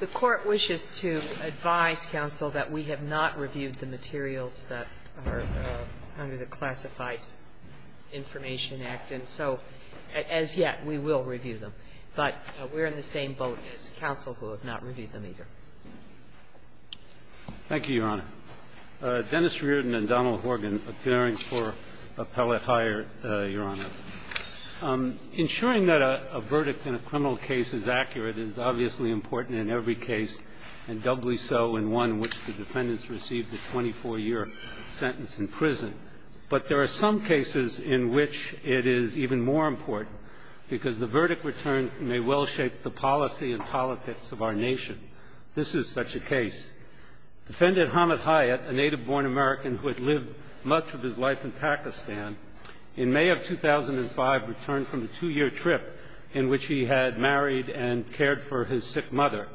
The Court wishes to advise counsel that we have not reviewed the materials that are under the Classified Information Act, and so, as yet, we will review them, but we're in the same boat as counsel who have not reviewed them either. Thank you, Your Honor. Dennis Reardon and Donald Horgan appearing for appellate hire, Your Honor. Ensuring that a verdict in a criminal case is accurate is obviously important in every case, and doubly so in one in which the defendants received a 24-year sentence in prison. But there are some cases in which it is even more important because the verdict returned may well shape the policy and politics of our nation. Defendant Hamid Hayat, a native-born American who had lived much of his life in Pakistan, in May of 2005 returned from a two-year trip in which he had married and cared for his sick mother.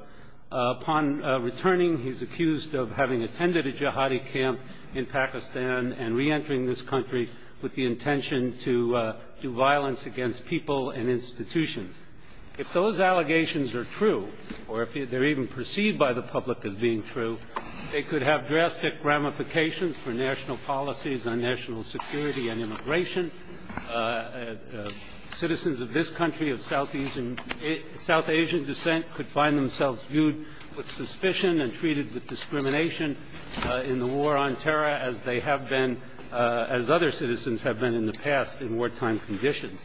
Upon returning, he's accused of having attended a jihadi camp in Pakistan and reentering this country with the intention to do violence against people and institutions. If those allegations are true, or if they're even perceived by the public as being true, they could have drastic ramifications for national policies on national security and immigration. Citizens of this country of South Asian descent could find themselves viewed with suspicion and treated with discrimination in the war on terror as they have been, as other citizens have been in the past in wartime conditions.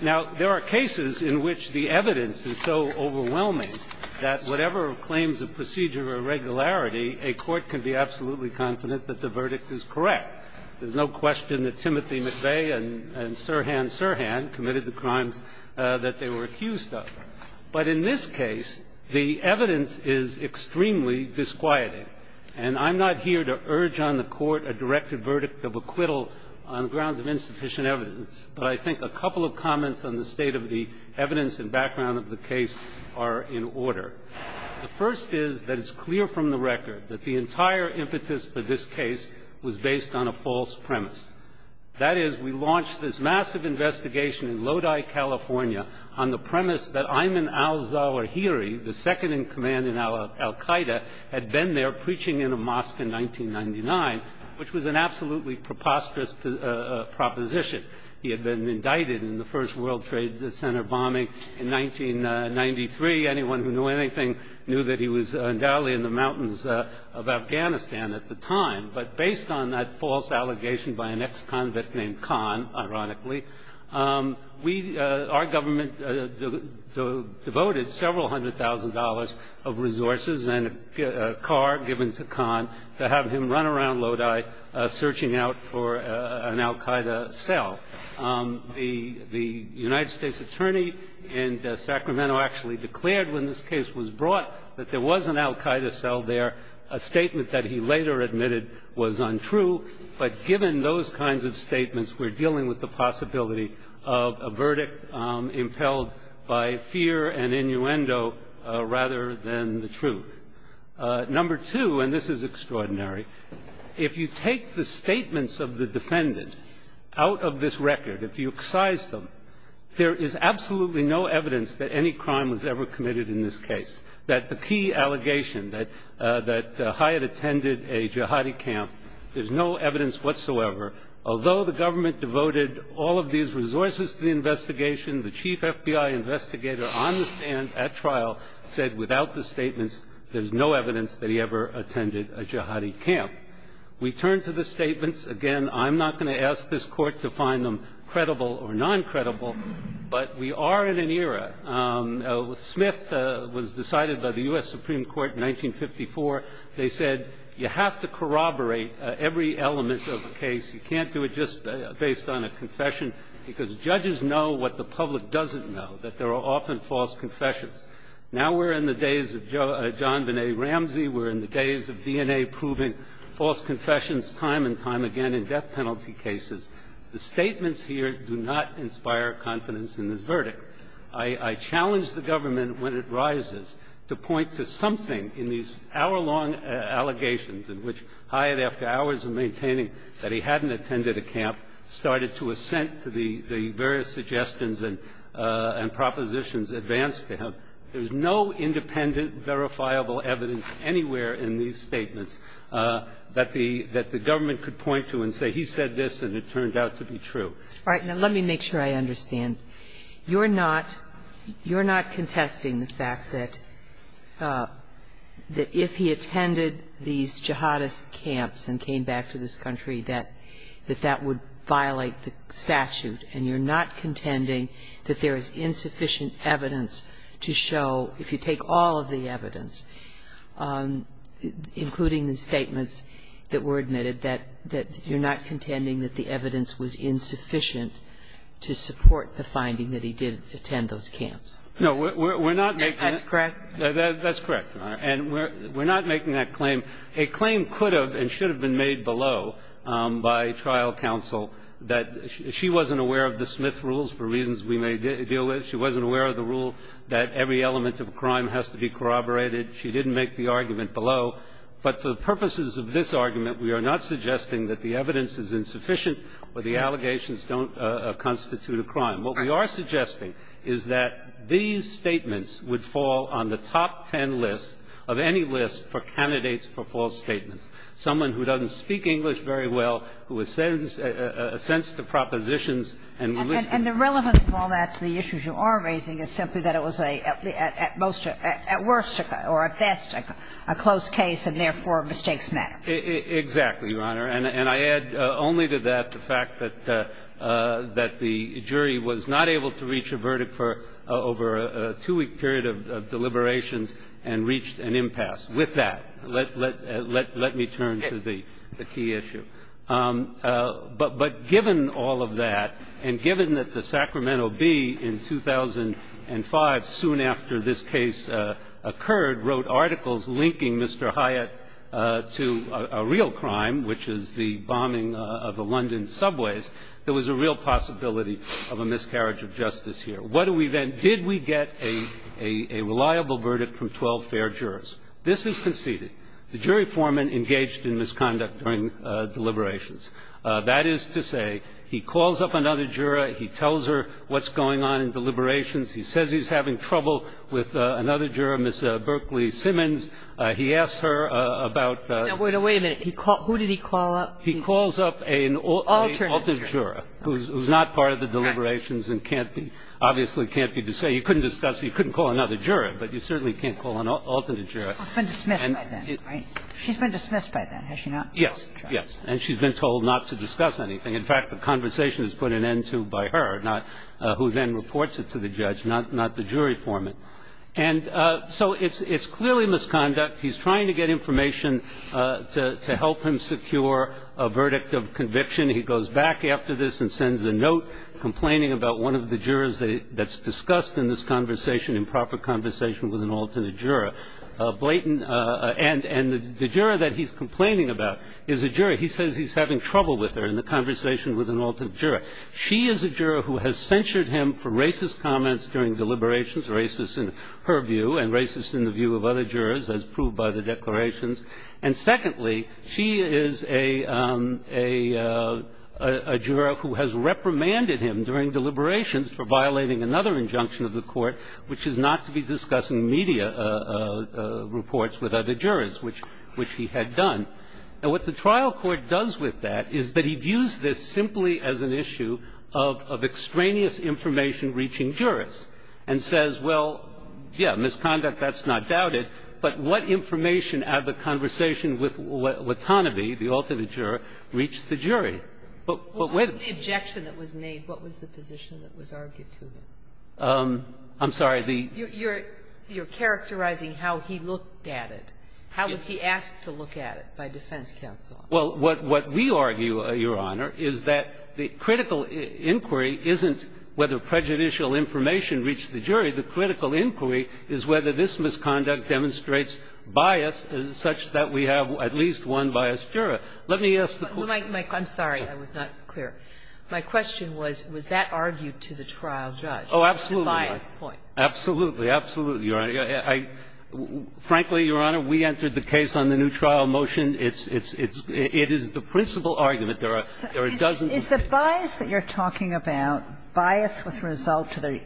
Now, there are cases in which the evidence is so overwhelming that whatever claims of procedure or irregularity, a court can be absolutely confident that the verdict is correct. There's no question that Timothy McVeigh and Sirhan Sirhan committed the crimes that they were accused of. But in this case, the evidence is extremely disquieting. And I'm not here to urge on the Court a directed verdict of acquittal on grounds of insufficient evidence. But I think a couple of comments on the state of the evidence and background of the case are in order. The first is that it's clear from the record that the entire impetus for this case was based on a false premise. That is, we launched this massive investigation in Lodi, California, on the premise that Ayman al-Zawahiri, the second-in-command in al-Qaeda, had been there preaching in a mosque in 1999, which was an absolutely preposterous proposition. He had been indicted in the first World Trade Center bombing in 1993. Anyone who knew anything knew that he was undoubtedly in the mountains of Afghanistan at the time. But based on that false allegation by an ex-convict named Khan, ironically, we, our government, devoted several hundred thousand dollars of resources and a car given to Khan to have him run around Lodi searching out for an al-Qaeda cell. The United States attorney in Sacramento actually declared when this case was brought that there was an al-Qaeda cell there. A statement that he later admitted was untrue. But given those kinds of statements, we're dealing with the possibility of a verdict impelled by fear and innuendo rather than the truth. Number two, and this is extraordinary, if you take the statements of the defendant out of this record, if you excise them, there is absolutely no evidence that any crime was ever committed in this case. That the key allegation that Hyatt attended a jihadi camp, there's no evidence whatsoever. Although the government devoted all of these resources to the investigation, the chief FBI investigator on the stand at trial said without the statements, there's no evidence that he ever attended a jihadi camp. We turn to the statements. Again, I'm not going to ask this court to find them credible or non-credible, but we are in an era. Smith was decided by the U.S. Supreme Court in 1954. They said you have to corroborate every element of a case. You can't do it just based on a confession, because judges know what the public doesn't know, that there are often false confessions. Now we're in the days of John Vannetti Ramsey. We're in the days of DNA-proving false confessions time and time again in death penalty cases. The statements here do not inspire confidence in this verdict. I challenge the government, when it rises, to point to something in these hour-long allegations in which Hyatt, after hours of maintaining that he hadn't attended a camp, started to assent to the various suggestions and propositions advanced to him. There's no independent, verifiable evidence anywhere in these statements that the government could point to and say he said this and it turned out to be true. All right. Now let me make sure I understand. You're not contesting the fact that if he attended these jihadist camps and came back to this country, that that would violate the statute, and you're not contending that there is insufficient evidence to show, if you take all of the evidence, including the statements that were admitted, that you're not contending that the evidence is insufficient to support the finding that he did attend those camps? No, we're not making that. That's correct? That's correct, Your Honor. And we're not making that claim. A claim could have and should have been made below by trial counsel that she wasn't aware of the Smith rules for reasons we may deal with. She wasn't aware of the rule that every element of a crime has to be corroborated. She didn't make the argument below. But for the purposes of this argument, we are not suggesting that the evidence is insufficient or the allegations don't constitute a crime. What we are suggesting is that these statements would fall on the top ten list of any list for candidates for false statements. Someone who doesn't speak English very well, who ascends to propositions and will listen. And the relevance of all that to the issues you are raising is simply that it was a at most or at best a closed case and therefore mistakes matter. Exactly, Your Honor. And I add only to that the fact that the jury was not able to reach a verdict for over a two-week period of deliberations and reached an impasse. With that, let me turn to the key issue. But given all of that, and given that the Sacramento Bee in 2005, soon after this case occurred, wrote articles linking Mr. Hyatt to a real crime, which is the bombing of the London subways, there was a real possibility of a miscarriage of justice here. What do we then do? Did we get a reliable verdict from 12 fair jurors? This is conceded. The jury foreman engaged in misconduct during deliberations. That is to say, he calls up another juror. He tells her what's going on in deliberations. He says he's having trouble with another juror, Ms. Berkley-Simmons. He asked her about the ---- Now, wait a minute. Who did he call up? Alternate juror. He calls up an alternate juror who's not part of the deliberations and can't be ---- obviously can't be discussed. You couldn't discuss it. You couldn't call another juror. But you certainly can't call an alternate juror. She's been dismissed by then, right? She's been dismissed by then, has she not? Yes, yes. And she's been told not to discuss anything. In fact, the conversation is put an end to by her, not who then reports it to the judge, not the jury foreman. And so it's clearly misconduct. He's trying to get information to help him secure a verdict of conviction. He goes back after this and sends a note complaining about one of the jurors that is discussed in this conversation, improper conversation with an alternate juror. Blayton ---- and the juror that he's complaining about is a juror. He says he's having trouble with her in the conversation with an alternate juror. She is a juror who has censured him for racist comments during deliberations, racist in her view and racist in the view of other jurors, as proved by the declarations. And secondly, she is a juror who has reprimanded him during deliberations for violating another injunction of the court, which is not to be discussing media reports with other jurors, which he had done. And what the trial court does with that is that he views this simply as an issue of extraneous information reaching jurors and says, well, yes, misconduct, that's not doubted, but what information out of the conversation with Watanabe, the alternate juror, reached the jury? But whether the ---- What was the objection that was made? What was the position that was argued to him? I'm sorry, the ---- You're characterizing how he looked at it. How was he asked to look at it by defense counsel? Well, what we argue, Your Honor, is that the critical inquiry isn't whether prejudicial information reached the jury. The critical inquiry is whether this misconduct demonstrates bias such that we have at least one biased juror. Let me ask the court ---- I'm sorry. I was not clear. My question was, was that argued to the trial judge? Oh, absolutely. The bias point. Absolutely. Absolutely, Your Honor. Frankly, Your Honor, we entered the case on the new trial motion. It's the principal argument. There are dozens of cases. Is the bias that you're talking about bias with result to the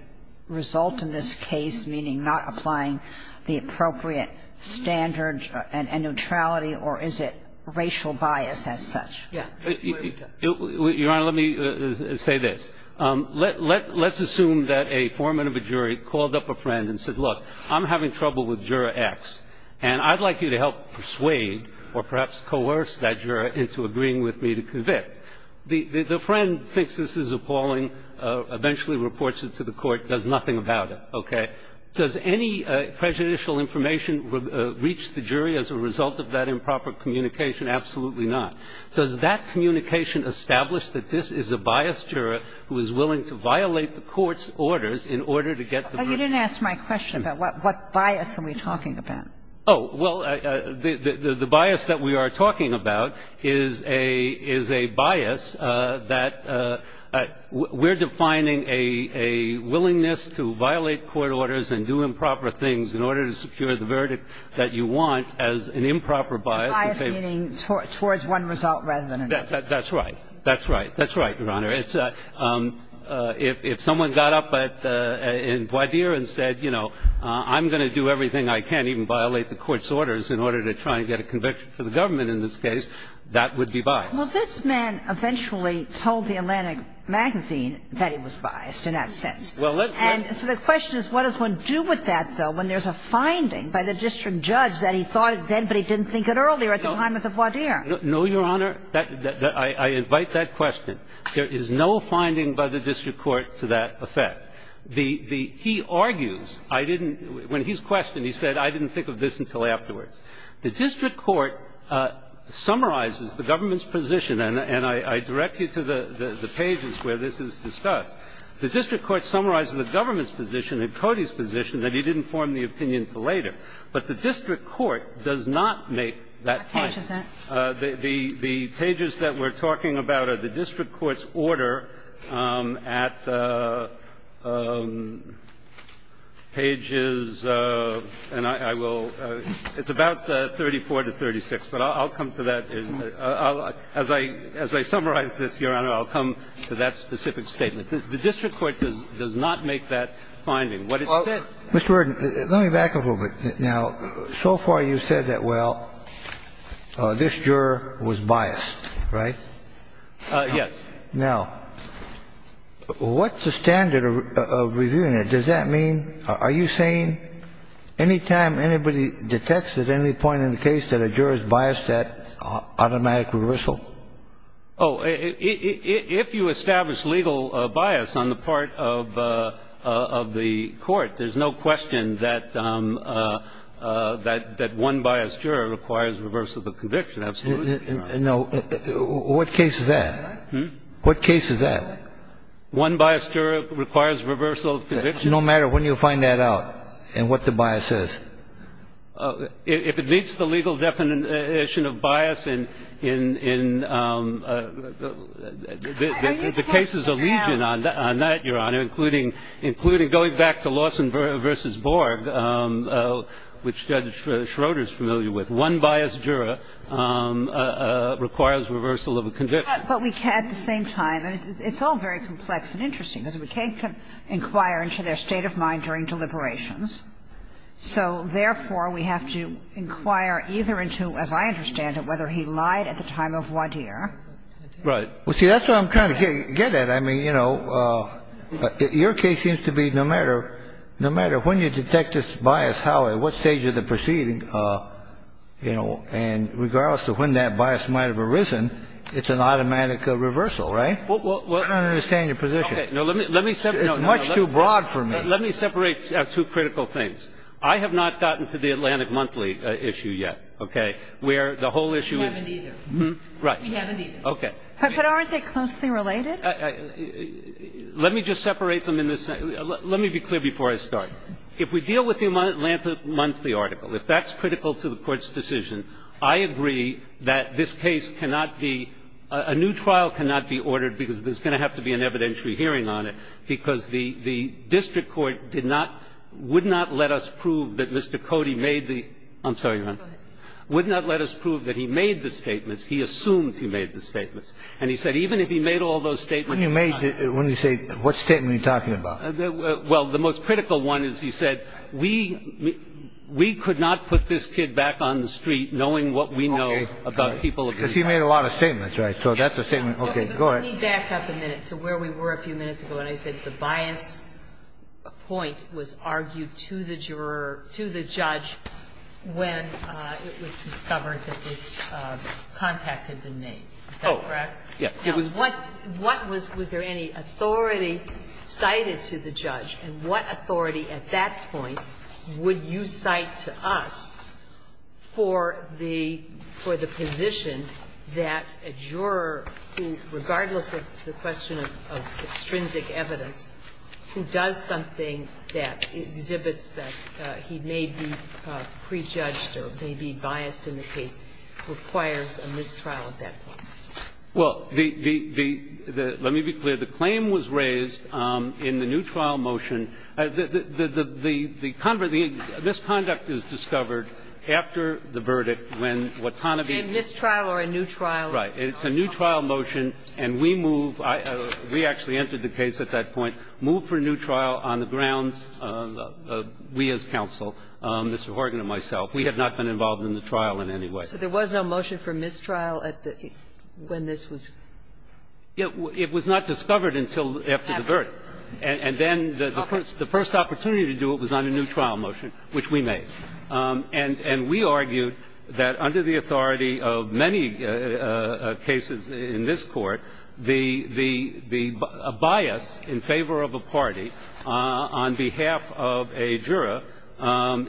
result in this case, meaning not applying the appropriate standards and neutrality, or is it racial bias as such? Your Honor, let me say this. Let's assume that a foreman of a jury called up a friend and said, look, I'm having trouble with Juror X, and I'd like you to help persuade or perhaps coerce that juror into agreeing with me to convict. The friend thinks this is appalling, eventually reports it to the court, does nothing about it, okay? Does any prejudicial information reach the jury as a result of that improper communication? Absolutely not. Does that communication establish that this is a biased juror who is willing to violate the court's orders in order to get the verdict? Oh, you didn't ask my question about what bias are we talking about. Oh, well, the bias that we are talking about is a bias that we're defining a willingness to violate court orders and do improper things in order to secure the verdict that you want as an improper bias. A biased meaning towards one result rather than another. That's right. That's right. That's right, Your Honor. If someone got up in voir dire and said, you know, I'm going to do everything I can, even violate the court's orders in order to try and get a conviction for the government in this case, that would be biased. Well, this man eventually told the Atlantic magazine that he was biased in that sense. And so the question is, what does one do with that, though, when there's a finding by the district judge that he thought then, but he didn't think it earlier at the time of the voir dire? No, Your Honor. I invite that question. There is no finding by the district court to that effect. The key argues, I didn't – when he's questioned, he said, I didn't think of this until afterwards. The district court summarizes the government's position, and I direct you to the pages where this is discussed. The district court summarizes the government's position and Cody's position that he didn't form the opinion until later. But the district court does not make that finding. What page is that? The pages that we're talking about are the district court's order at pages, and I will – it's about 34 to 36, but I'll come to that. As I summarize this, Your Honor, I'll come to that specific statement. The district court does not make that finding. What it says – Mr. Worden, let me back up a little bit. Now, so far you've said that, well, this juror was biased, right? Yes. Now, what's the standard of reviewing it? Does that mean – are you saying any time anybody detects at any point in the case that a juror is biased, that's automatic reversal? Oh, if you establish legal bias on the part of the court, there's no question that one biased juror requires reversal of conviction. Absolutely not. No. What case is that? What case is that? One biased juror requires reversal of conviction. No matter when you find that out and what the bias is? If it meets the legal definition of bias in the cases of legion on that, Your Honor, including going back to Lawson v. Borg, which Judge Schroeder is familiar with, one biased juror requires reversal of a conviction. But we can't at the same time – it's all very complex and interesting because we can't inquire into their state of mind during deliberations. So, therefore, we have to inquire either into, as I understand it, whether he lied at the time of Wadier. Right. Well, see, that's what I'm trying to get at. I mean, you know, your case seems to be no matter – no matter when you detect this bias, how, at what stage of the proceeding, you know, and regardless of when that bias might have arisen, it's an automatic reversal, right? I don't understand your position. No, let me separate – It's much too broad for me. Let me separate two critical things. I have not gotten to the Atlantic Monthly issue yet, okay, where the whole issue is – We haven't either. Right. We haven't either. Okay. But aren't they closely related? Let me just separate them in this – let me be clear before I start. If we deal with the Atlantic Monthly article, if that's critical to the Court's decision, I agree that this case cannot be – a new trial cannot be ordered because there's going to have to be an evidentiary hearing on it because the district court did not – would not let us prove that Mr. Cody made the – I'm sorry, Your Honor. Go ahead. Would not let us prove that he made the statements. He assumed he made the statements. And he said even if he made all those statements – When you made – when you say – what statement are you talking about? Well, the most critical one is he said we – we could not put this kid back on the street knowing what we know about people – Because he made a lot of statements, right? So that's a statement – okay, go ahead. Let me back up a minute to where we were a few minutes ago when I said the bias point was argued to the juror – to the judge when it was discovered that this contact had been made. Is that correct? Oh, yes. Now, what was – was there any authority cited to the judge, and what authority at that point would you cite to us for the – for the position that a juror who, regardless of the question of – of extrinsic evidence, who does something that exhibits that he may be prejudged or may be biased in the case, requires a mistrial at that point? Well, the – the – let me be clear. The claim was raised in the new trial motion. The – the – the misconduct is discovered after the verdict when Watanabe – A mistrial or a new trial? Right. It's a new trial motion, and we move – we actually entered the case at that point – moved for a new trial on the grounds of we as counsel, Mr. Horgan and myself. We had not been involved in the trial in any way. So there was no motion for mistrial at the – when this was? It was not discovered until after the verdict. After the verdict. And then the first opportunity to do it was on a new trial motion, which we made. And – and we argued that under the authority of many cases in this Court, the – the – a bias in favor of a party on behalf of a juror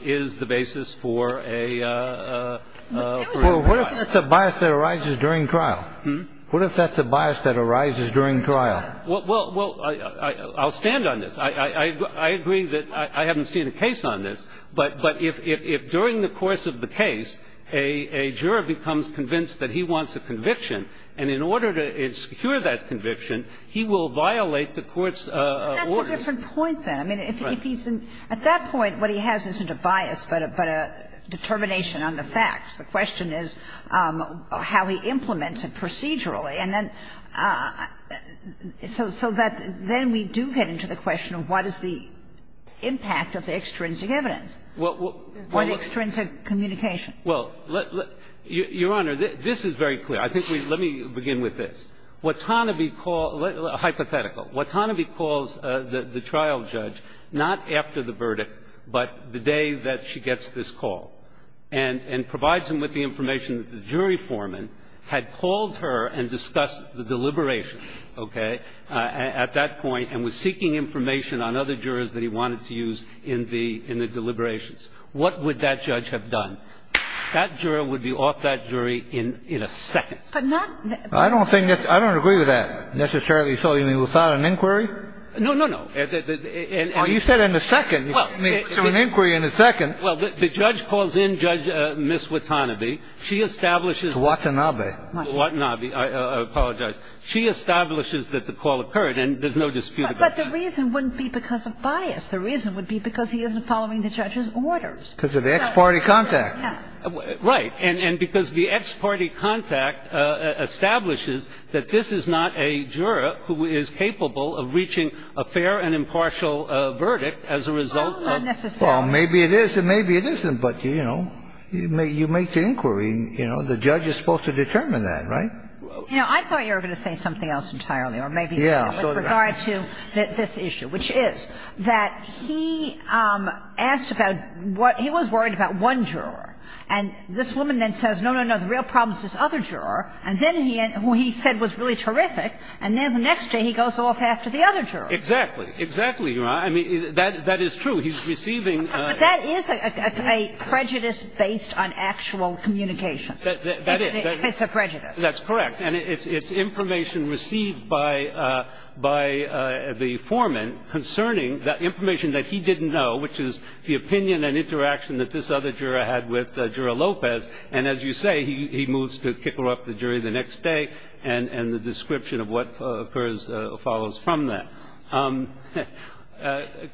is the basis for a – for a new trial. Well, what if that's a bias that arises during trial? Hmm? What if that's a bias that arises during trial? Well – well, I'll stand on this. I – I agree that I haven't seen a case on this, but – but if – if during the course of the case, a – a juror becomes convinced that he wants a conviction and in order to secure that conviction, he will violate the court's order. That's a different point, then. Right. I mean, if he's in – at that point, what he has isn't a bias, but a determination on the facts. The question is how he implements it procedurally. And then – so – so that then we do get into the question of what is the impact of the extrinsic evidence. Well – well – Or the extrinsic communication. Well, let – let – Your Honor, this is very clear. I think we – let me begin with this. Watanabe called – hypothetical. Watanabe calls the – the trial judge not after the verdict, but the day that she gets this call, and – and provides him with the information that the jury foreman had called her and discussed the deliberations, okay, at that point, and was seeking information on other jurors that he wanted to use in the – in the deliberations. What would that judge have done? That juror would be off that jury in – in a second. But not – I don't think that's – I don't agree with that, necessarily. So you mean without an inquiry? No, no, no. And – and – Well, you said in a second. Well, the – I mean, to an inquiry in a second. Well, the judge calls in Judge – Ms. Watanabe. She establishes – Ms. Watanabe. Watanabe. I apologize. She establishes that the call occurred, and there's no dispute about that. But the reason wouldn't be because of bias. The reason would be because he isn't following the judge's orders. Because of the ex parte contact. Yeah. Right. And – and because the ex parte contact establishes that this is not a juror who is capable of reaching a fair and impartial verdict as a result of – Oh, not necessarily. Well, maybe it is and maybe it isn't. But, you know, you make the inquiry, you know. The judge is supposed to determine that, right? You know, I thought you were going to say something else entirely, or maybe not. Yeah. With regard to this issue, which is that he asked about what – he was worried about one juror. And this woman then says, no, no, no, the real problem is this other juror. And then he – who he said was really terrific, and then the next day he goes off after the other juror. Exactly. Exactly, Your Honor. I mean, that is true. He's receiving – But that is a prejudice based on actual communication. That is. It's a prejudice. That's correct. And it's information received by – by the foreman concerning the information that he didn't know, which is the opinion and interaction that this other juror had with Jura Lopez. And as you say, he moves to kick her off the jury the next day, and the description of what occurs follows from that.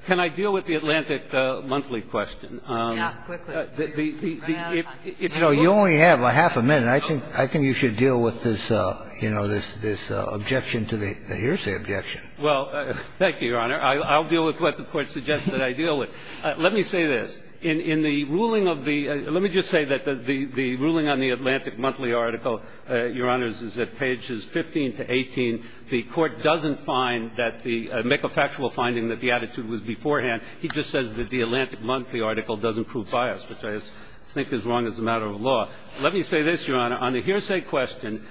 Can I deal with the Atlantic Monthly question? Yeah, quickly. You only have half a minute, and I think you should deal with this, you know, this objection to the – here's the objection. Well, thank you, Your Honor. I'll deal with what the Court suggests that I deal with. Let me say this. In the ruling of the – let me just say that the ruling on the Atlantic Monthly article, Your Honors, is at pages 15 to 18. The Court doesn't find that the – make a factual finding that the attitude was beforehand. He just says that the Atlantic Monthly article doesn't prove bias, which I think is wrong as a matter of law. Let me say this, Your Honor. On the hearsay question,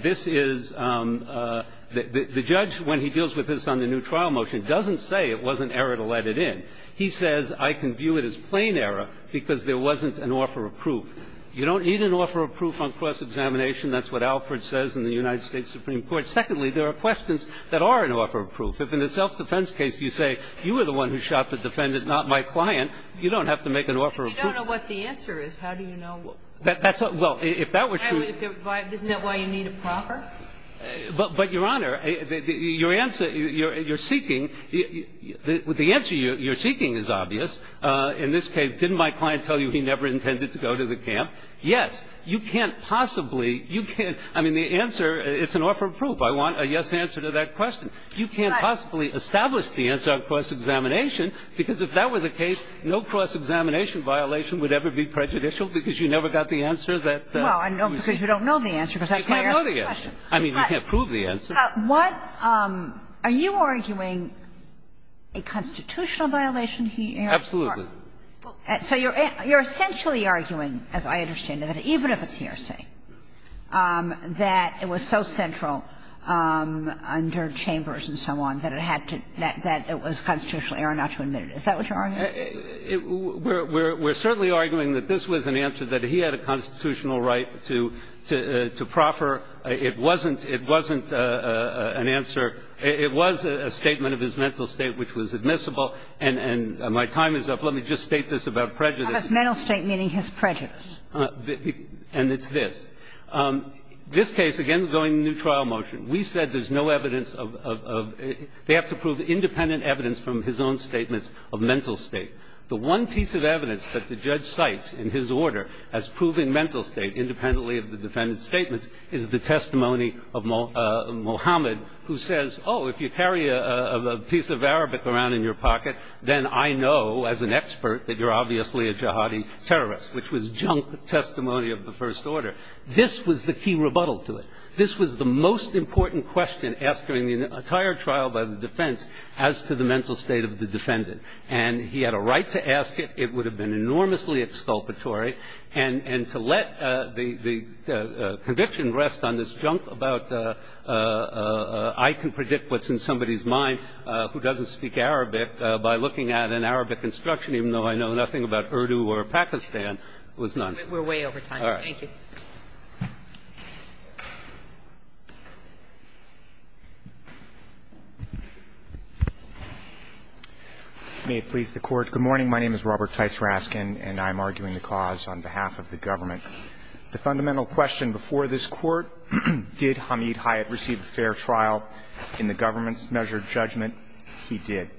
this is – the judge, when he deals with this on the new trial motion, doesn't say it was an error to let it in. He says, I can view it as plain error because there wasn't an offer of proof. You don't need an offer of proof on cross-examination. That's what Alford says in the United States Supreme Court. Secondly, there are questions that are an offer of proof. If in the self-defense case you say, you were the one who shot the defendant, not my client, you don't have to make an offer of proof. If you don't know what the answer is, how do you know what the answer is? Well, if that were true – Isn't that why you need a proper? But, Your Honor, your answer – your seeking – the answer you're seeking is obvious. In this case, didn't my client tell you he never intended to go to the camp? Yes. You can't possibly – you can't – I mean, the answer – it's an offer of proof. I want a yes answer to that question. You can't possibly establish the answer on cross-examination, because if that were the case, no cross-examination violation would ever be prejudicial, because you never got the answer that you seek. Well, I know, because you don't know the answer, because that's why I asked the question. You can't know the answer. I mean, you can't prove the answer. What – are you arguing a constitutional violation he asked? Absolutely. So you're essentially arguing, as I understand it, even if it's here, say, that it was so central under Chambers and so on that it had to – that it was constitutional error not to admit it. Is that what you're arguing? We're certainly arguing that this was an answer that he had a constitutional right to – to proffer. It wasn't – it wasn't an answer – it was a statement of his mental state which was admissible, and my time is up. Let me just state this about prejudice. But mental state meaning his prejudice. And it's this. This case, again, we're going to a new trial motion. We said there's no evidence of – they have to prove independent evidence from his own statements of mental state. The one piece of evidence that the judge cites in his order as proving mental state, independently of the defendant's statements, is the testimony of Mohammed, who says, oh, if you carry a piece of Arabic around in your pocket, then I know as an expert that you're obviously a jihadi terrorist, which was junk testimony of the First Order. This was the key rebuttal to it. This was the most important question asked during the entire trial by the defense as to the mental state of the defendant. And he had a right to ask it. It would have been enormously exculpatory. And to let the conviction rest on this junk about I can predict what's in somebody's mind who doesn't speak Arabic by looking at an Arabic instruction, even though I know nothing about Urdu or Pakistan, was nonsense. All right. Thank you. Roberts. May it please the Court. Good morning. My name is Robert Tice Raskin, and I'm arguing the cause on behalf of the government. The fundamental question before this Court, did Hamid Hayat receive a fair trial in the government's measured judgment? He did.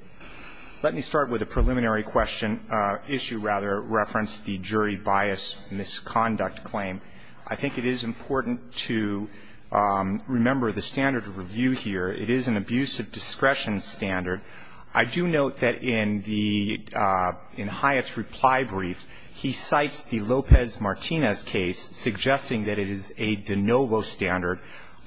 Let me start with a preliminary question, issue rather, reference the jury bias misconduct claim. I think it is important to remember the standard of review here. It is an abuse of discretion standard. I do note that in Hayat's reply brief, he cites the Lopez-Martinez case, suggesting that it is a de novo standard.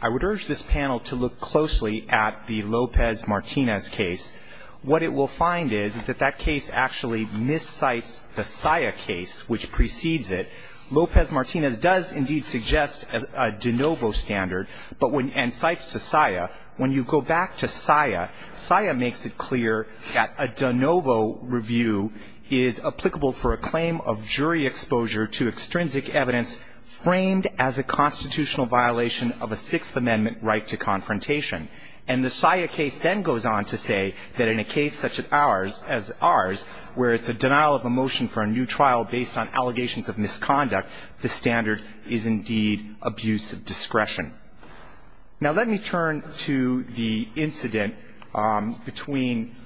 I would urge this panel to look closely at the Lopez-Martinez case. What it will find is that that case actually miscites the SIA case, which precedes it. Lopez-Martinez does indeed suggest a de novo standard and cites to SIA. When you go back to SIA, SIA makes it clear that a de novo review is applicable for a claim of jury exposure to extrinsic evidence framed as a constitutional violation of a Sixth Amendment right to confrontation. And the SIA case then goes on to say that in a case such as ours, where it's a denial of a motion for a new trial based on allegations of misconduct, the standard is indeed abuse of discretion. Now, let me turn to the incident between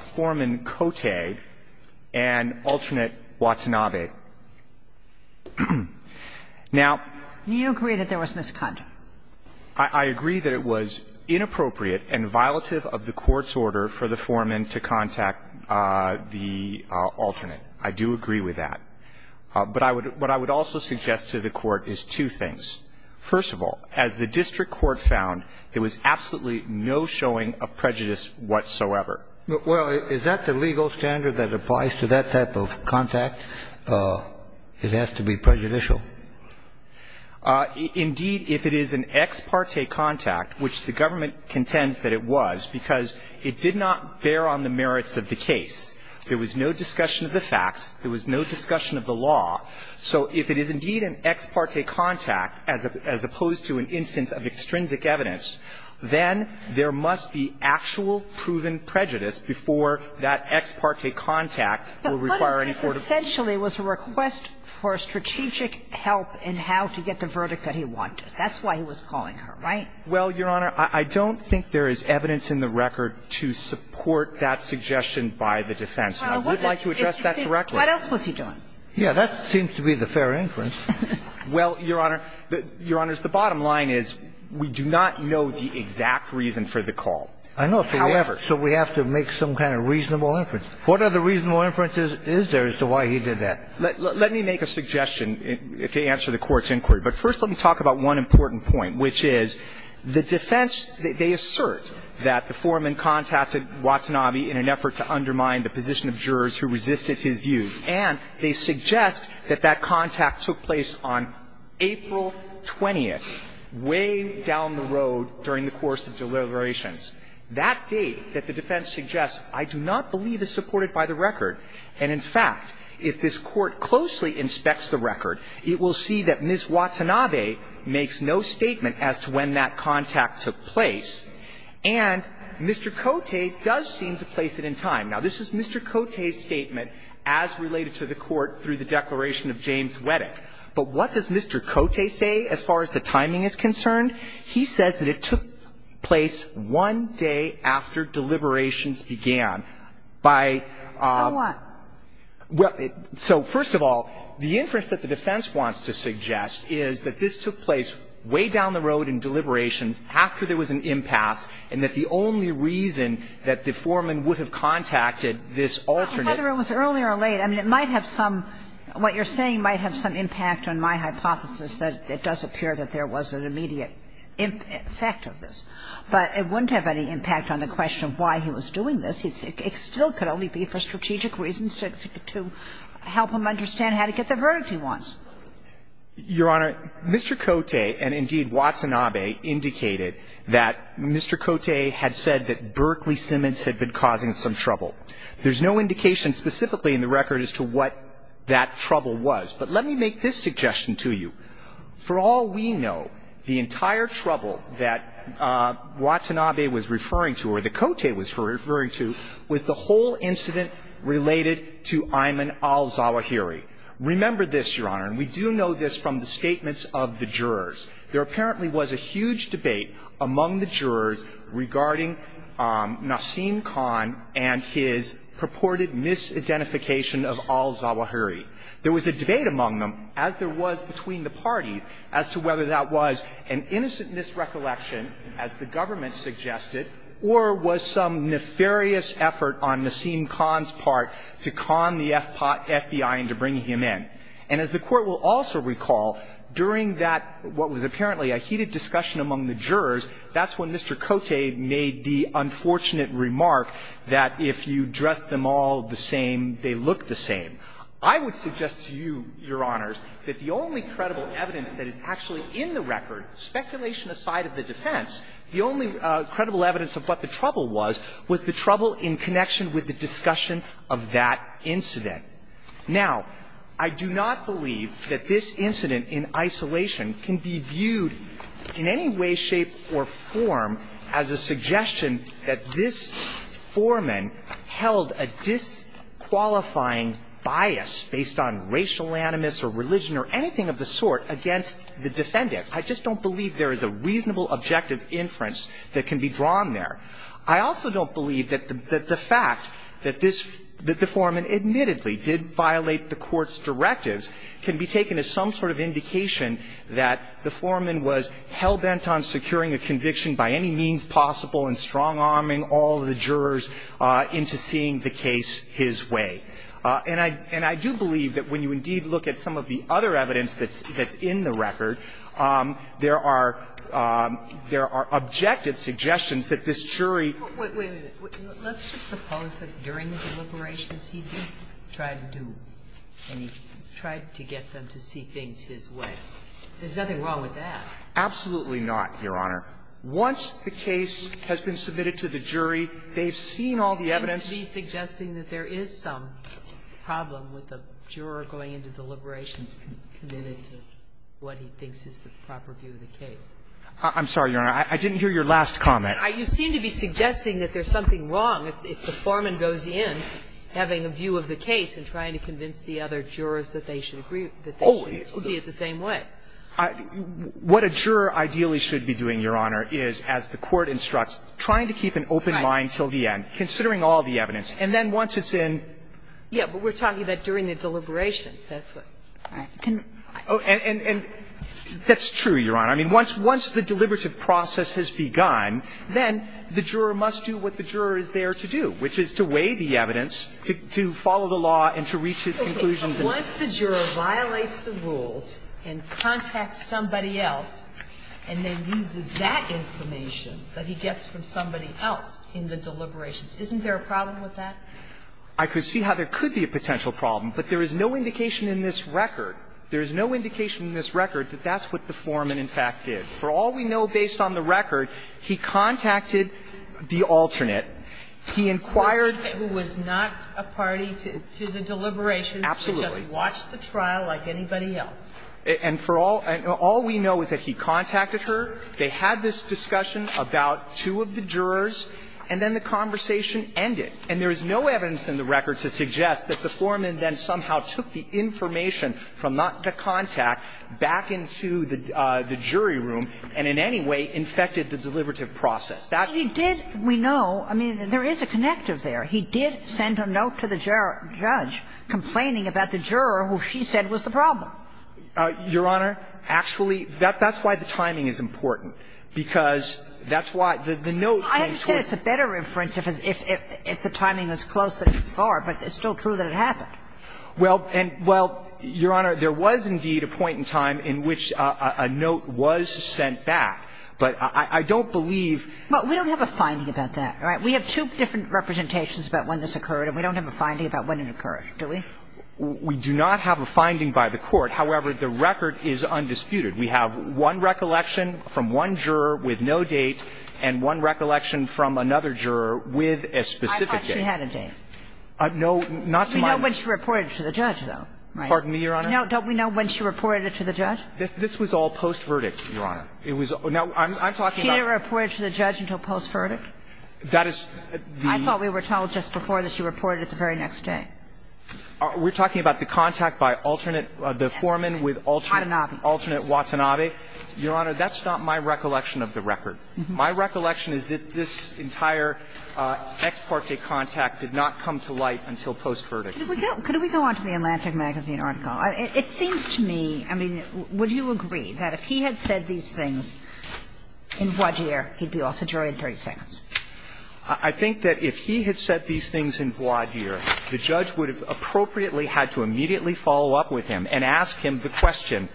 Foreman Cote and alternate Watanabe. Now, I agree that it was inappropriate and violative of the Court's order for the foreman to contact the alternate. I do agree with that. But I would also suggest to the Court is two things. First of all, as the district court found, there was absolutely no showing of prejudice whatsoever. Well, is that the legal standard that applies to that type of contact? It has to be prejudicial. Indeed, if it is an ex parte contact, which the government contends that it was because it did not bear on the merits of the case, there was no discussion of the facts, there was no discussion of the law. So if it is indeed an ex parte contact, as opposed to an instance of extrinsic evidence, then there must be actual proven prejudice before that ex parte contact will require any sort of... But this essentially was a request for strategic help in how to get the verdict that he wanted. That's why he was calling her, right? Well, Your Honor, I don't think there is evidence in the record to support that suggestion by the defense. And I would like to address that directly. What else was he doing? Yes, that seems to be the fair inference. Well, Your Honor, Your Honors, the bottom line is we do not know the exact reason for the call. I know. However... So we have to make some kind of reasonable inference. What other reasonable inference is there as to why he did that? Let me make a suggestion to answer the Court's inquiry. But first let me talk about one important point, which is the defense, they assert that the foreman contacted Watanabe in an effort to undermine the position of jurors who resisted his views, and they suggest that that contact took place on April 20th, way down the road during the course of deliberations. That date that the defense suggests I do not believe is supported by the record. And in fact, if this Court closely inspects the record, it will see that Ms. Watanabe makes no statement as to when that contact took place, and Mr. Cote does seem to place it in time. Now, this is Mr. Cote's statement as related to the Court through the declaration of James Weddick. But what does Mr. Cote say as far as the timing is concerned? He says that it took place one day after deliberations began by... So what? Well, so first of all, the inference that the defense wants to suggest is that this took place way down the road in deliberations after there was an impasse, and that is the only reason that the foreman would have contacted this alternate... Whether it was earlier or later, I mean, it might have some – what you're saying might have some impact on my hypothesis that it does appear that there was an immediate effect of this. But it wouldn't have any impact on the question of why he was doing this. It still could only be for strategic reasons to help him understand how to get the verdict he wants. Your Honor, Mr. Cote, and indeed, Watanabe, indicated that Mr. Cote had not made He had said that Berkley Simmons had been causing some trouble. There's no indication specifically in the record as to what that trouble was. But let me make this suggestion to you. For all we know, the entire trouble that Watanabe was referring to or that Cote was referring to was the whole incident related to Ayman al-Zawahiri. Remember this, Your Honor, and we do know this from the statements of the jurors. There apparently was a huge debate among the jurors regarding Nassim Khan and his purported misidentification of al-Zawahiri. There was a debate among them, as there was between the parties, as to whether that was an innocent misrecollection, as the government suggested, or was some nefarious effort on Nassim Khan's part to con the FBI into bringing him in. And as the Court will also recall, during that, what was apparently a heated discussion among the jurors, that's when Mr. Cote made the unfortunate remark that if you dress them all the same, they look the same. I would suggest to you, Your Honors, that the only credible evidence that is actually in the record, speculation aside of the defense, the only credible evidence of what the trouble was was the trouble in connection with the discussion of that incident. Now, I do not believe that this incident in isolation can be viewed in any way, shape, or form as a suggestion that this foreman held a disqualifying bias based on racial animus or religion or anything of the sort against the defendant. I just don't believe there is a reasonable objective inference that can be drawn there. I also don't believe that the fact that this – that the foreman admittedly did violate the Court's directives can be taken as some sort of indication that the foreman was hell-bent on securing a conviction by any means possible and strong-arming all the jurors into seeing the case his way. And I do believe that when you indeed look at some of the other evidence that's in the record, there are – there are objective suggestions that this jury – Sotomayor, let's just suppose that during the deliberations he did try to do – and he tried to get them to see things his way. There's nothing wrong with that. Absolutely not, Your Honor. Once the case has been submitted to the jury, they've seen all the evidence – Seems to be suggesting that there is some problem with the juror going into deliberations committed to what he thinks is the proper view of the case. I'm sorry, Your Honor. I didn't hear your last comment. You seem to be suggesting that there's something wrong if the foreman goes in having a view of the case and trying to convince the other jurors that they should agree – that they should see it the same way. What a juror ideally should be doing, Your Honor, is, as the Court instructs, trying to keep an open mind till the end, considering all the evidence. And then once it's in – Yes, but we're talking about during the deliberations. That's what – all right. Can I – And that's true, Your Honor. I mean, once the deliberative process has begun, then the juror must do what the juror is there to do, which is to weigh the evidence, to follow the law and to reach his conclusions and – Okay. But once the juror violates the rules and contacts somebody else and then uses that information that he gets from somebody else in the deliberations, isn't there a problem with that? I could see how there could be a potential problem, but there is no indication in this record. There is no indication in this record that that's what the foreman, in fact, did. For all we know based on the record, he contacted the alternate. He inquired – He was not a party to the deliberations. Absolutely. He just watched the trial like anybody else. And for all – all we know is that he contacted her. They had this discussion about two of the jurors, and then the conversation ended. And there is no evidence in the record to suggest that the foreman then somehow took the information from the contact back into the jury room and in any way infected the deliberative process. That's – But he did – we know, I mean, there is a connective there. He did send a note to the judge complaining about the juror who she said was the problem. Your Honor, actually, that's why the timing is important, because that's why the note came towards – I mean, it's a better reference if the timing is close than it's far, but it's still true that it happened. Well, and – well, Your Honor, there was indeed a point in time in which a note was sent back, but I don't believe – But we don't have a finding about that, right? We have two different representations about when this occurred, and we don't have a finding about when it occurred, do we? We do not have a finding by the Court. However, the record is undisputed. We have one recollection from one juror with no date and one recollection from another juror with a specific date. I thought she had a date. No, not to my knowledge. We know when she reported it to the judge, though, right? Pardon me, Your Honor? No. Don't we know when she reported it to the judge? This was all post-verdict, Your Honor. It was – now, I'm talking about – She didn't report it to the judge until post-verdict? That is the – I thought we were told just before that she reported it the very next day. We're talking about the contact by alternate – the foreman with alternate – Adenovic. Alternate Watanabe. Your Honor, that's not my recollection of the record. My recollection is that this entire ex parte contact did not come to light until post-verdict. Could we go on to the Atlantic Magazine article? It seems to me – I mean, would you agree that if he had said these things in Voisdier, he'd be also jury in 36? I think that if he had said these things in Voisdier, the judge would have appropriately had to immediately follow up with him and ask him the question,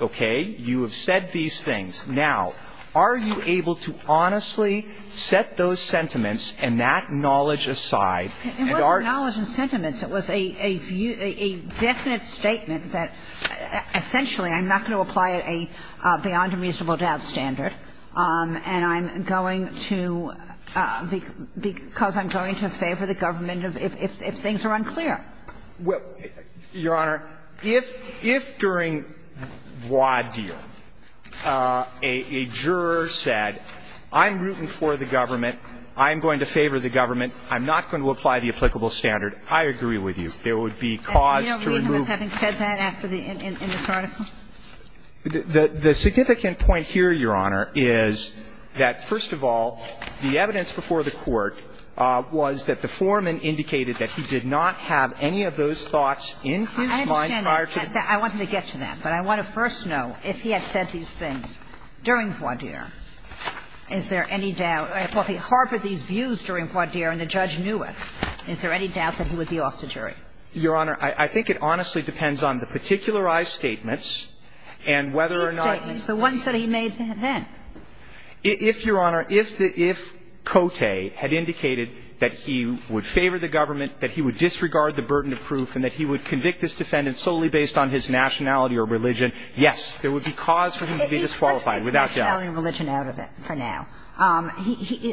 okay, you have said these things. Now, are you able to honestly set those sentiments and that knowledge aside and are – It wasn't knowledge and sentiments. It was a view – a definite statement that essentially I'm not going to apply a beyond a reasonable doubt standard, and I'm going to – because I'm going to favor the government of – if things are unclear. Now, Your Honor, if during Voisdier a juror said, I'm rooting for the government, I'm going to favor the government, I'm not going to apply the applicable standard, I agree with you. There would be cause to remove. And do you know the reason for having said that after the – in this article? The significant point here, Your Honor, is that, first of all, the evidence before the court was that the foreman indicated that he did not have any of those thoughts in his mind prior to the – I understand that. I wanted to get to that, but I want to first know if he had said these things during Voisdier, is there any doubt – well, if he harbored these views during Voisdier and the judge knew it, is there any doubt that he would be off the jury? Your Honor, I think it honestly depends on the particularized statements and whether or not – The statements, the ones that he made then. If, Your Honor, if the – if Cote had indicated that he would favor the government, that he would disregard the burden of proof, and that he would convict this defendant solely based on his nationality or religion, yes, there would be cause for him to be disqualified, without doubt. Let's get the nationality and religion out of it for now.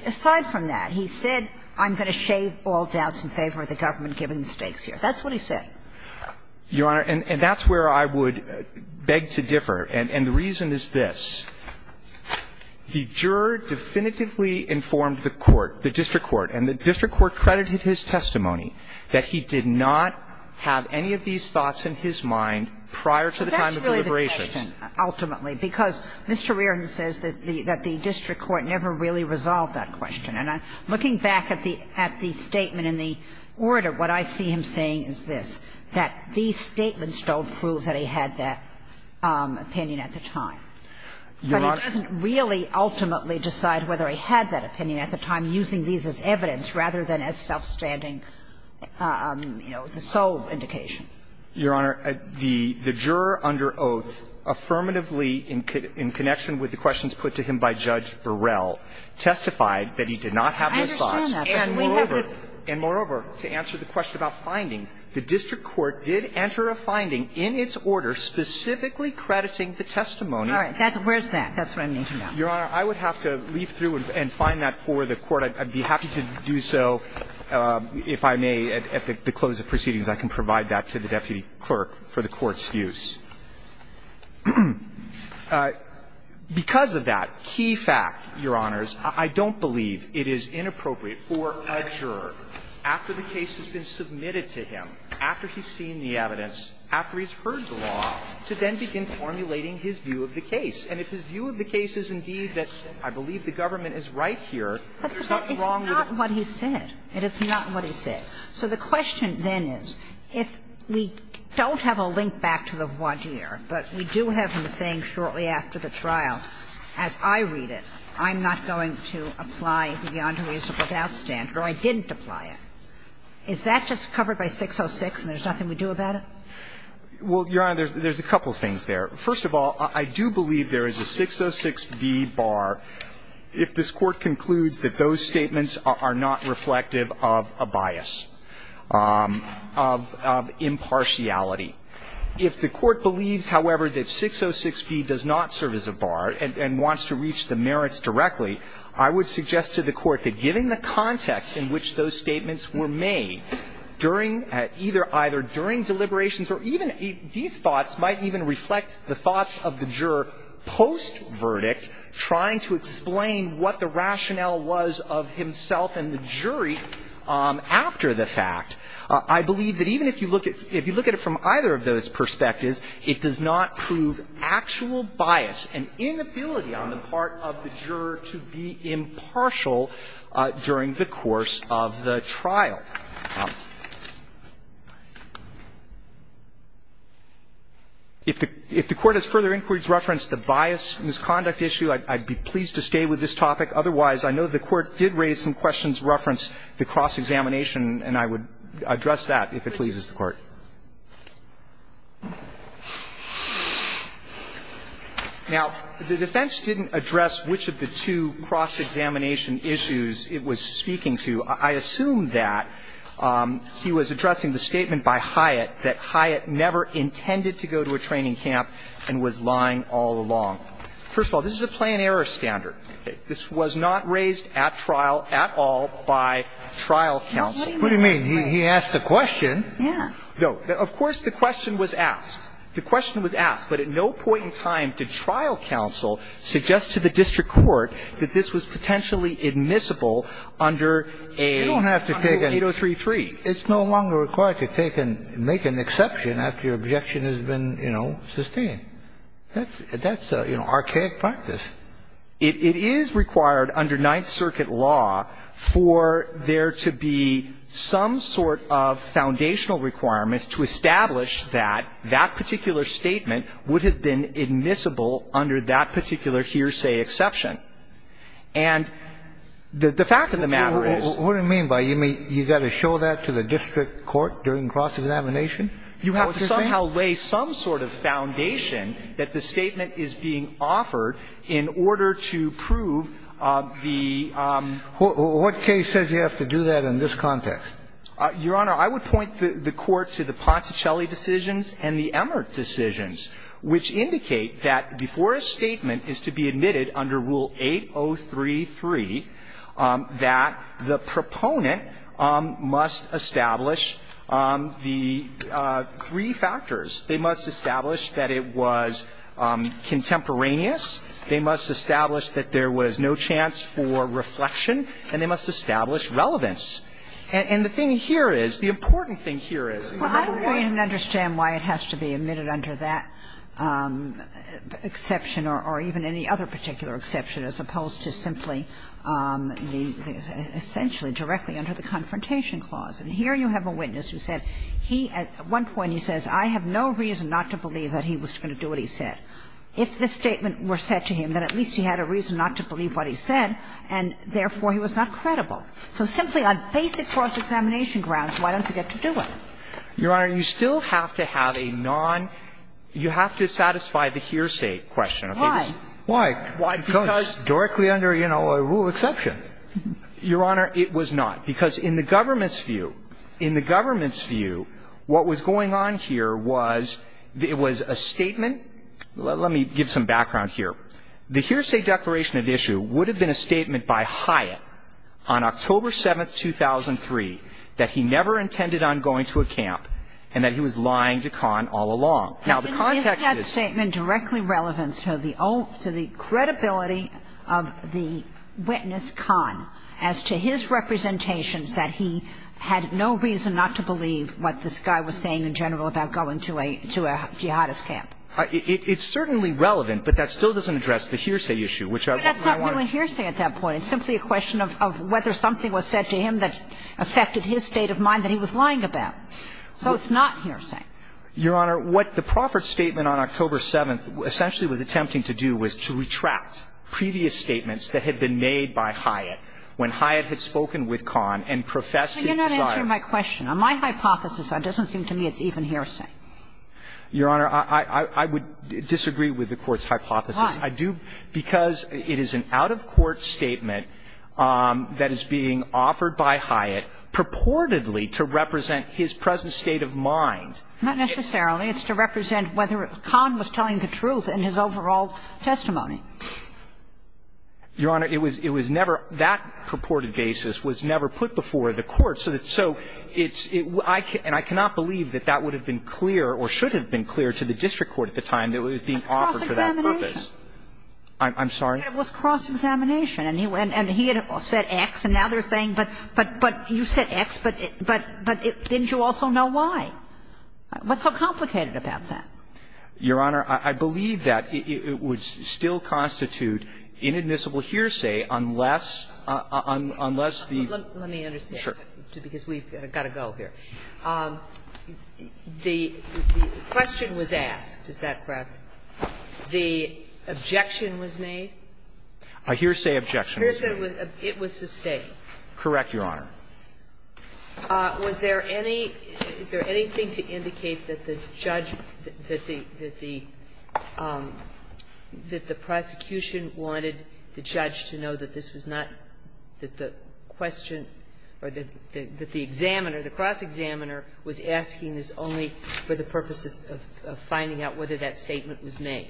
Aside from that, he said, I'm going to shave all doubts in favor of the government giving the stakes here. That's what he said. Your Honor, and that's where I would beg to differ. And the reason is this. The juror definitively informed the court, the district court, and the district court credited his testimony that he did not have any of these thoughts in his mind prior to the time of deliberations. So that's really the question, ultimately, because Mr. Reardon says that the district court never really resolved that question. And looking back at the statement in the order, what I see him saying is this, that these statements don't prove that he had that opinion at the time. But he doesn't really ultimately decide whether he had that opinion at the time, using these as evidence, rather than as self-standing, you know, the sole indication. Your Honor, the juror under oath affirmatively, in connection with the questions put to him by Judge Burrell, testified that he did not have those thoughts. And moreover, and moreover, to answer the question about findings, the district court did enter a finding in its order specifically crediting the testimony. Kagan All right. Where's that? That's what I'm looking at. Gershengorn Your Honor, I would have to leaf through and find that for the Court. I'd be happy to do so if I may, at the close of proceedings, I can provide that to the deputy clerk for the Court's use. Because of that key fact, Your Honors, I don't believe it is inappropriate for a juror, after the case has been submitted to him, after he's submitted the evidence, after he's seen the evidence, after he's heard the law, to then begin formulating his view of the case. And if his view of the case is indeed that, I believe the government is right here, there's nothing wrong with it. Kagan But that is not what he said. It is not what he said. So the question then is, if we don't have a link back to the voir dire, but we do have him saying shortly after the trial, as I read it, I'm not going to apply the beyond 606, and there's nothing we do about it? Goldstein, Well, Your Honor, there's a couple of things there. First of all, I do believe there is a 606b bar if this Court concludes that those statements are not reflective of a bias, of impartiality. If the Court believes, however, that 606b does not serve as a bar and wants to reach the merits directly, I would suggest to the Court that given the context in which those statements were made during either during deliberations or even these thoughts might even reflect the thoughts of the juror post-verdict trying to explain what the rationale was of himself and the jury after the fact. I believe that even if you look at it from either of those perspectives, it does not prove actual bias and inability on the part of the juror to be impartial during the course of the trial. If the Court has further inquiries referenced the bias misconduct issue, I'd be pleased to stay with this topic. Otherwise, I know the Court did raise some questions referenced the cross-examination, and I would address that if it pleases the Court. Now, the defense didn't address which of the two cross-examination issues in the case it was speaking to. I assume that he was addressing the statement by Hyatt that Hyatt never intended to go to a training camp and was lying all along. First of all, this is a plain error standard. This was not raised at trial at all by trial counsel. Kennedy, what do you mean? He asked a question. Yeah. No. Of course, the question was asked. The question was asked, but at no point in time did trial counsel suggest to the district court that this was potentially admissible under a 8033. You don't have to take an – it's no longer required to take an – make an exception after your objection has been, you know, sustained. That's, you know, archaic practice. It is required under Ninth Circuit law for there to be some sort of foundational requirements to establish that that particular statement would have been admissible under that particular hearsay exception. And the fact of the matter is – What do you mean by you got to show that to the district court during cross-examination? You have to somehow lay some sort of foundation that the statement is being offered in order to prove the – What case says you have to do that in this context? Your Honor, I would point the Court to the Poncecelli decisions and the Emert decisions, which indicate that before a statement is to be admitted under Rule 8033, that the proponent must establish the three factors. They must establish that it was contemporaneous, they must establish that there was no chance for reflection, and they must establish relevance. And the thing here is, the important thing here is – I don't understand why it has to be admitted under that exception or even any other particular exception, as opposed to simply the – essentially directly under the Confrontation Clause. And here you have a witness who said he – at one point he says, I have no reason not to believe that he was going to do what he said. If this statement were said to him, then at least he had a reason not to believe what he said, and therefore he was not credible. So simply on basic cross-examination grounds, why don't you get to do it? Your Honor, you still have to have a non – you have to satisfy the hearsay question. Okay? This is – Why? Why? Because – Why? Because – Directly under, you know, a rule exception. Your Honor, it was not. Because in the government's view – in the government's view, what was going on here was – it was a statement – let me give some background here. The hearsay declaration of issue would have been a statement by Hyatt on October 7th, 2003, that he never intended on going to a camp and that he was lying to Kahn all along. Now, the context is – Is that statement directly relevant to the credibility of the witness, Kahn, as to his representations that he had no reason not to believe what this guy was saying in general about going to a jihadist camp? It's certainly relevant, but that still doesn't address the hearsay issue, which I want to – But that's not really hearsay at that point. It's simply a question of whether something was said to him that affected his state of mind that he was lying about. So it's not hearsay. Your Honor, what the Proffitt statement on October 7th essentially was attempting to do was to retract previous statements that had been made by Hyatt when Hyatt had spoken with Kahn and professed his desire – But you're not answering my question. On my hypothesis, it doesn't seem to me it's even hearsay. Your Honor, I would disagree with the Court's hypothesis. Why? I do – because it is an out-of-court statement that is being offered by Hyatt purportedly to represent his present state of mind. Not necessarily. It's to represent whether Kahn was telling the truth in his overall testimony. Your Honor, it was never – that purported basis was never put before the Court. So it's – and I cannot believe that that would have been clear or should have been clear to the district court at the time that it was being offered for that purpose. I'm sorry? It was cross-examination. And he had said X, and now they're saying, but you said X, but didn't you also know why? What's so complicated about that? Your Honor, I believe that it would still constitute inadmissible hearsay unless the – Let me understand that, because we've got to go here. The question was asked, is that correct? The objection was made? A hearsay objection was made. It was sustained. Correct, Your Honor. Was there any – is there anything to indicate that the judge – that the prosecution wanted the judge to know that this was not – that the question or that the examiner, the cross-examiner, was asking this only for the purpose of finding out whether that statement was made,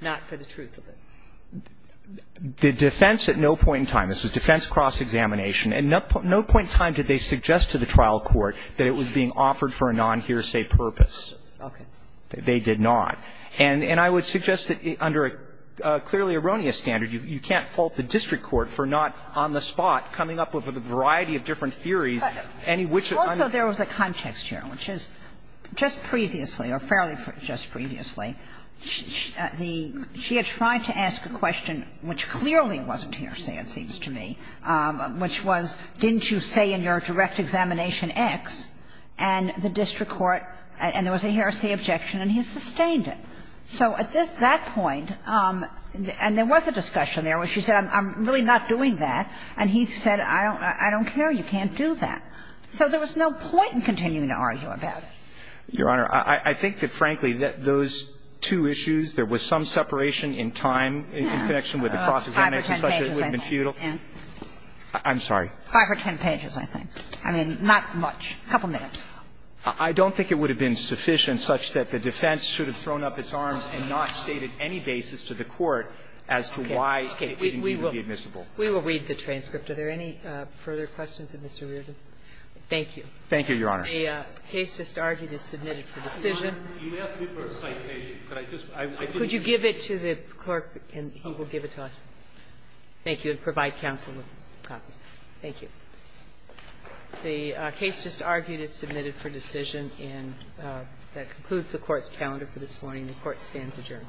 not for the truth of it? The defense at no point in time – this was defense cross-examination – at no point in time did they suggest to the trial court that it was being offered for a non-hearsay purpose. They did not. And I would suggest that under a clearly erroneous standard, you can't fault the district court for not, on the spot, coming up with a variety of different theories, any which – Also, there was a context here, which is, just previously, or fairly just previously, the – she had tried to ask a question which clearly wasn't hearsay, it seems to me, which was, didn't you say in your direct examination, X, and the district court – and there was a hearsay objection, and he sustained it. So at this – that point, and there was a discussion there where she said, I'm really not doing that, and he said, I don't care, you can't do that. So there was no point in continuing to argue about it. Your Honor, I think that, frankly, those two issues, there was some separation in time in connection with the cross-examination, such that it would have been futile. I'm sorry. Five or ten pages, I think. I mean, not much. A couple minutes. I don't think it would have been sufficient such that the defense should have thrown up its arms and not stated any basis to the court as to why it would be admissible. We will read the transcript. Are there any further questions of Mr. Reardon? Thank you. Thank you, Your Honor. The case just argued is submitted for decision. Could you give it to the clerk, and he will give it to us. Thank you. And provide counsel with copies. Thank you. The case just argued is submitted for decision, and that concludes the Court's hearing this morning. The Court stands adjourned.